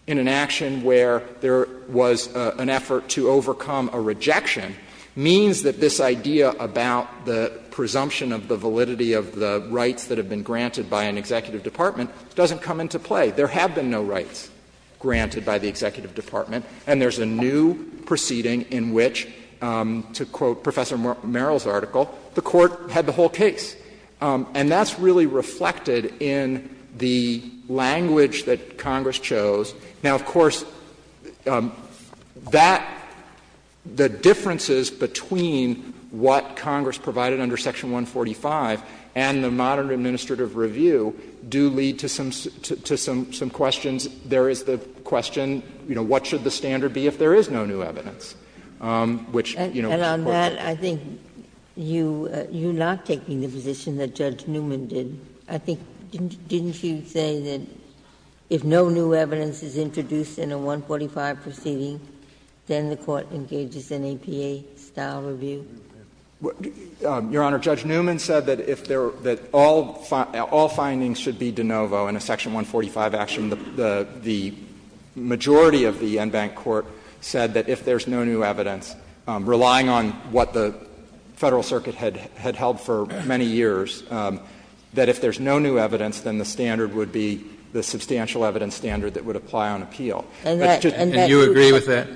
in an action where there was an effort to overcome a rejection means that this idea about the presumption of the validity of the rights that have been granted by an executive department doesn't come into play. There have been no rights granted by the executive department. And there's a new proceeding in which, to quote Professor Merrill's article, the Court had the whole case. And that's really reflected in the language that Congress chose. Now, of course, that — the differences between what Congress provided under Section 145 and the modern administrative review do lead to some questions. There is the question, you know, what should the standard be if there is no new evidence, which, you know, is a question. Ginsburg. And on that, I think you're not taking the position that Judge Newman did. I think — didn't you say that if no new evidence is introduced in a 145 proceeding, then the Court engages in APA-style review? Your Honor, Judge Newman said that if there — that all findings should be de novo in a Section 145 action. The majority of the Enbank Court said that if there's no new evidence, relying on what the Federal Circuit had held for many years, that if there's no new evidence, then the standard would be the substantial evidence standard that would apply on appeal. And that's just — And you agree with that?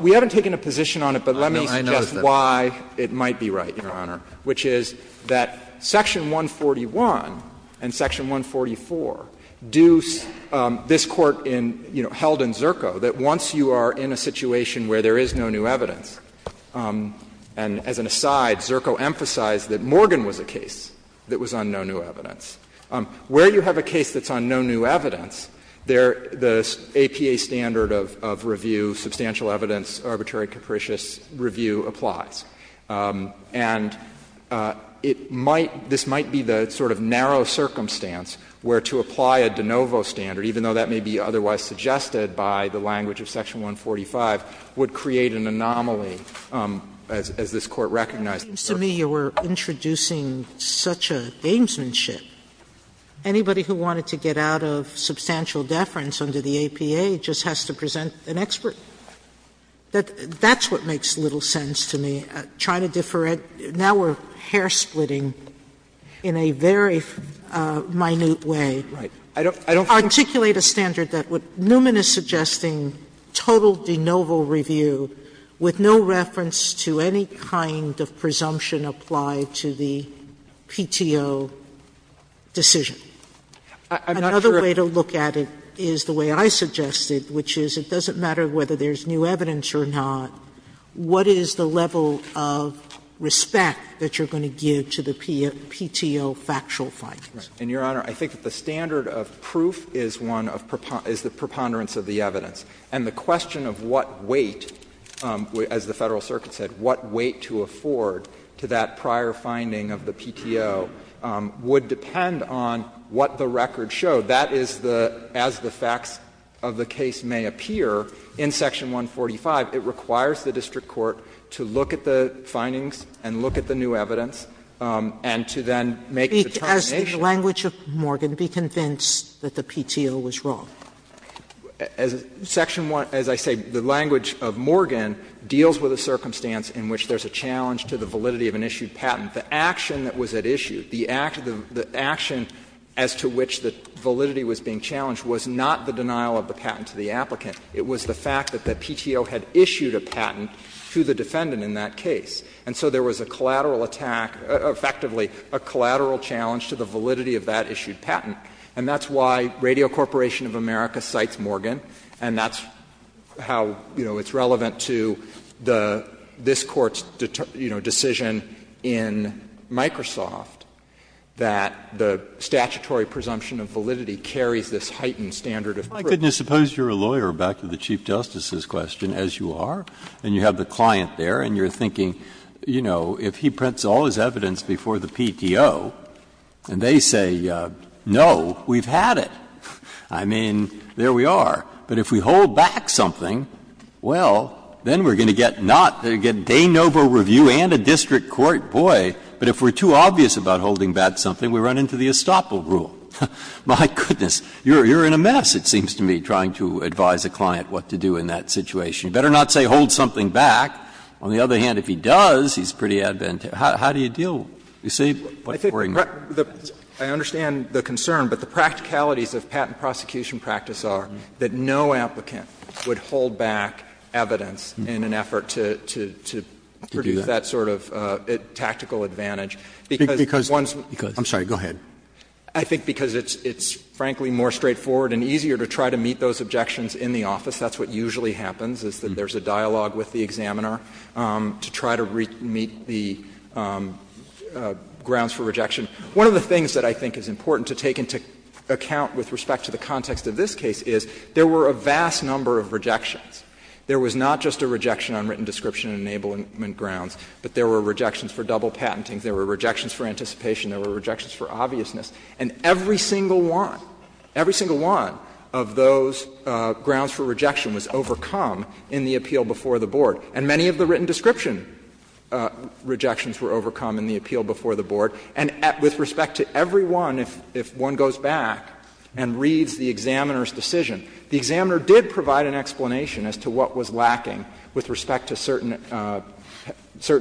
We haven't taken a position on it, but let me suggest why. It might be right, Your Honor, which is that Section 141 and Section 144 do — this Court in, you know, held in Zerko that once you are in a situation where there is no new evidence, and as an aside, Zerko emphasized that Morgan was a case that was on no new evidence, where you have a case that's on no new evidence, the APA standard of review, substantial evidence, arbitrary, capricious review applies. And it might — this might be the sort of narrow circumstance where to apply a de novo standard, even though that may be otherwise suggested by the language of Section 145, would create an anomaly, as this Court recognized in Zerko. But it seems to me you are introducing such a gamesmanship. Anybody who wanted to get out of substantial deference under the APA just has to present an expert. That's what makes little sense to me. Trying to differentiate. Now we are hair-splitting in a very minute way. Right. I don't think that's fair. Articulate a standard that would — Newman is suggesting total de novo review with no reference to any kind of presumption applied to the PTO decision. I'm not sure if— Another way to look at it is the way I suggested, which is it doesn't matter whether there's new evidence or not, what is the level of respect that you're going to give to the PTO factual findings? And, Your Honor, I think that the standard of proof is one of — is the preponderance of the evidence. And the question of what weight, as the Federal Circuit said, what weight to afford to that prior finding of the PTO would depend on what the record showed. That is the — as the facts of the case may appear in Section 145, it requires the district court to look at the findings and look at the new evidence and to then make a determination. Sotomayor, does the language of Morgan be convinced that the PTO was wrong? As Section 1 — as I say, the language of Morgan deals with a circumstance in which there's a challenge to the validity of an issued patent. The action that was at issue, the action as to which the validity was being challenged was not the denial of the patent to the applicant. It was the fact that the PTO had issued a patent to the defendant in that case. And so there was a collateral attack, effectively a collateral challenge to the validity of that issued patent. And that's why Radio Corporation of America cites Morgan, and that's how, you know, it's relevant to the — this Court's, you know, decision in Microsoft that the statutory presumption of validity carries this heightened standard of proof. Breyer, I couldn't suppose you're a lawyer, back to the Chief Justice's question, as you are, and you have the client there, and you're thinking, you know, if he prints all his evidence before the PTO and they say, no, we've had it, I mean, there we are. But if we hold back something, well, then we're going to get not — they get de novo review and a district court. Boy, but if we're too obvious about holding back something, we run into the estoppel rule. My goodness, you're in a mess, it seems to me, trying to advise a client what to do in that situation. You better not say hold something back. On the other hand, if he does, he's pretty advantageous. How do you deal with it? You see what we're doing? I think the — I understand the concern, but the practicalities of patent prosecution practice are that no applicant would hold back evidence in an effort to produce that sort of tactical advantage. Because one's one's. I'm sorry, go ahead. I think because it's, frankly, more straightforward and easier to try to meet those objections in the office. That's what usually happens, is that there's a dialogue with the examiner to try to meet the grounds for rejection. One of the things that I think is important to take into account with respect to the context of this case is there were a vast number of rejections. There was not just a rejection on written description and enablement grounds, but there were rejections for double patenting, there were rejections for anticipation, there were rejections for obviousness. And every single one, every single one of those grounds for rejection was overcome in the appeal before the board. And many of the written description rejections were overcome in the appeal before the board. And with respect to every one, if one goes back and reads the examiner's decision, the examiner did provide an explanation as to what was lacking with respect to certain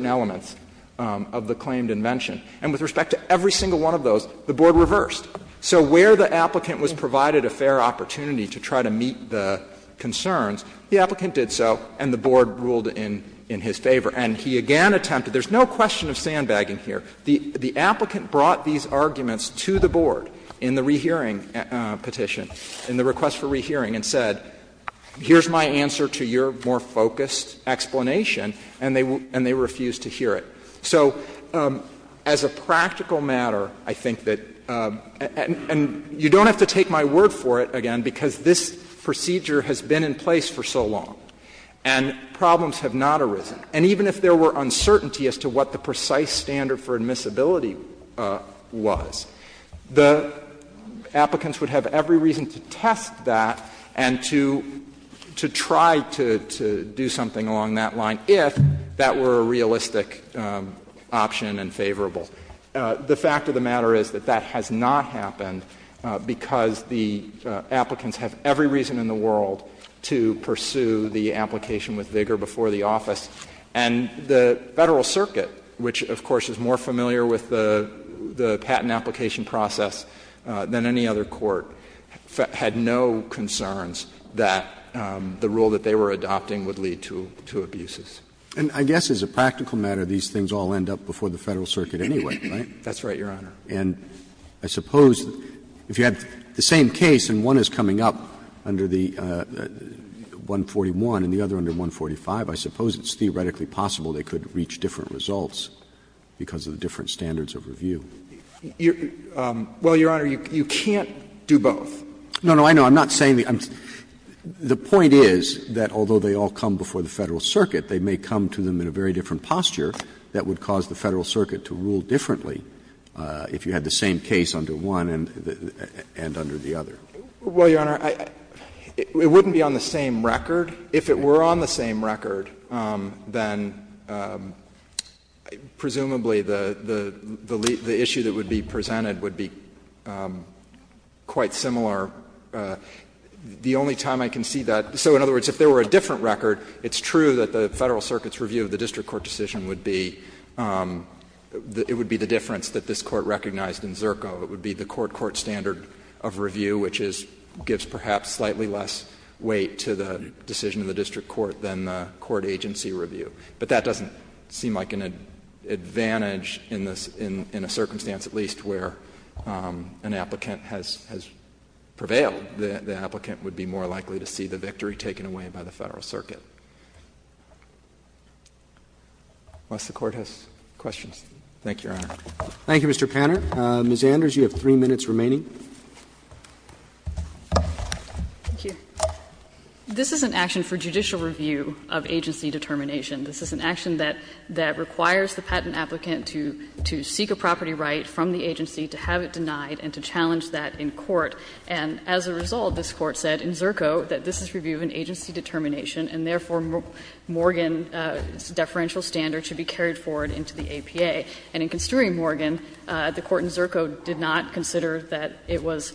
elements of the claimed invention. And with respect to every single one of those, the board reversed. So where the applicant was provided a fair opportunity to try to meet the concerns, the applicant did so and the board ruled in his favor. And he again attempted to do this. There's no question of sandbagging here. The applicant brought these arguments to the board in the rehearing petition, in the request for rehearing, and said, here's my answer to your more focused explanation, and they refused to hear it. So as a practical matter, I think that you don't have to take my word for it again, because this procedure has been in place for so long and problems have not arisen. And even if there were uncertainty as to what the precise standard for admissibility was, the applicants would have every reason to test that and to try to do something along that line if that were a realistic option and favorable. The fact of the matter is that that has not happened because the applicants have every reason in the world to pursue the application with vigor before the office. And the Federal Circuit, which of course is more familiar with the patent application process than any other court, had no concerns that the rule that they were adopting would lead to abuses. Roberts And I guess as a practical matter, these things all end up before the Federal Circuit anyway, right? That's right, Your Honor. And I suppose if you had the same case and one is coming up under the 141 and the other under 145, I suppose it's theoretically possible they could reach different results because of the different standards of review. Well, Your Honor, you can't do both. No, no, I know. I'm not saying the — the point is that although they all come before the Federal Circuit, they may come to them in a very different posture that would cause the Federal Circuit to rule differently if you had the same case under one and under the other. Well, Your Honor, it wouldn't be on the same record. If it were on the same record, then presumably the issue that would be presented would be quite similar. The only time I can see that — so in other words, if there were a different record, it's true that the Federal Circuit's review of the district court decision would be — it would be the difference that this Court recognized in Zerko. It would be the court-court standard of review, which is — gives perhaps slightly less weight to the decision of the district court than the court agency review. But that doesn't seem like an advantage in this — in a circumstance, at least, where an applicant has — has prevailed. The applicant would be more likely to see the victory taken away by the Federal Circuit. Unless the Court has questions. Thank you, Your Honor. Roberts. Thank you, Mr. Panner. Ms. Anders, you have three minutes remaining. Thank you. This is an action for judicial review of agency determination. This is an action that — that requires the patent applicant to — to seek a property right from the agency, to have it denied, and to challenge that in court. And as a result, this Court said in Zerko that this is review of an agency determination, and therefore, Morgan's deferential standard should be carried forward into the APA. And in considering Morgan, the court in Zerko did not consider that it was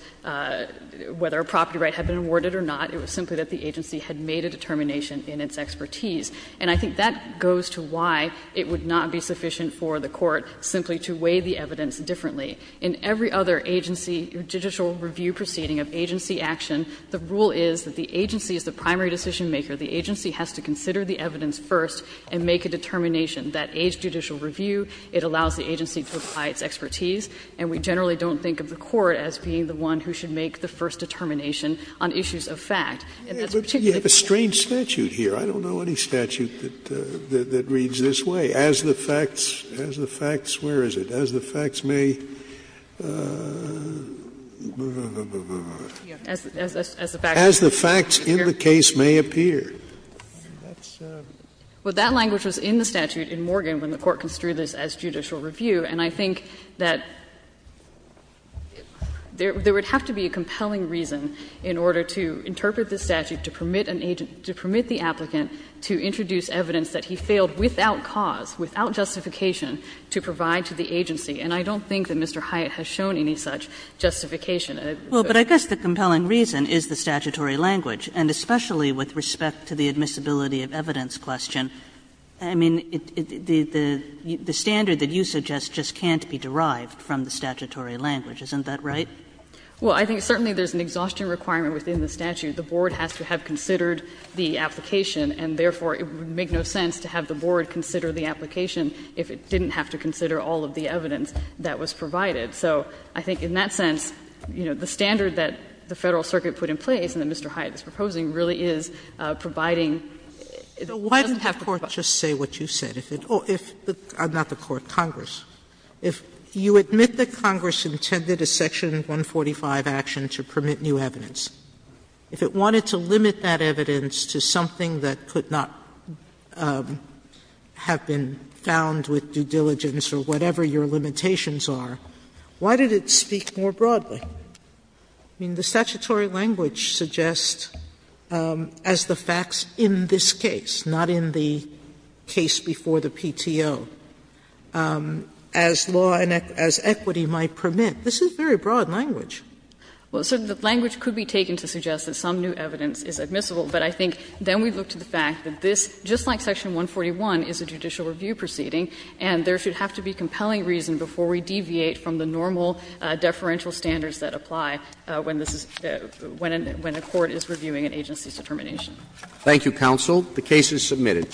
— whether a property right had been awarded or not, it was simply that the agency had made a determination in its expertise, and I think that goes to why it would not be sufficient for the court simply to weigh the evidence differently. In every other agency — judicial review proceeding of agency action, the rule is that the agency is the primary decisionmaker. The agency has to consider the evidence first and make a determination. That aids judicial review. It allows the agency to apply its expertise. And we generally don't think of the court as being the one who should make the first determination on issues of fact. And that's particularly true of Morgan. Scalia, but you have a strange statute here. I don't know any statute that — that reads this way. As the facts — as the facts — where is it? As the facts may — as the facts in the case may appear. That's — Well, that language was in the statute in Morgan when the court construed this as judicial review. And I think that there would have to be a compelling reason in order to interpret the statute to permit an agent — to permit the applicant to introduce evidence that he failed without cause, without justification, to provide to the agency. And I don't think that Mr. Hyatt has shown any such justification. Well, but I guess the compelling reason is the statutory language, and especially with respect to the admissibility of evidence question. I mean, the standard that you suggest just can't be derived from the statutory language, isn't that right? Well, I think certainly there's an exhaustion requirement within the statute. The board has to have considered the application, and therefore it would make no sense to have the board consider the application if it didn't have to consider all of the evidence that was provided. So I think in that sense, you know, the standard that the Federal Circuit put in place and that Mr. Hyatt is proposing really is providing — Sotomayor, why didn't the Court just say what you said? If it — not the Court, Congress. If you admit that Congress intended a Section 145 action to permit new evidence, if it wanted to limit that evidence to something that could not have been found with due diligence or whatever your limitations are, why did it speak more broadly? I mean, the statutory language suggests, as the facts in this case, not in the case before the PTO, as law and as equity might permit, this is very broad language. Well, so the language could be taken to suggest that some new evidence is admissible, but I think then we look to the fact that this, just like Section 141 is a judicial review proceeding, and there should have to be compelling reason before we deviate from the normal deferential standards that apply when this is — when a court is reviewing an agency's determination. Thank you, counsel. The case is submitted.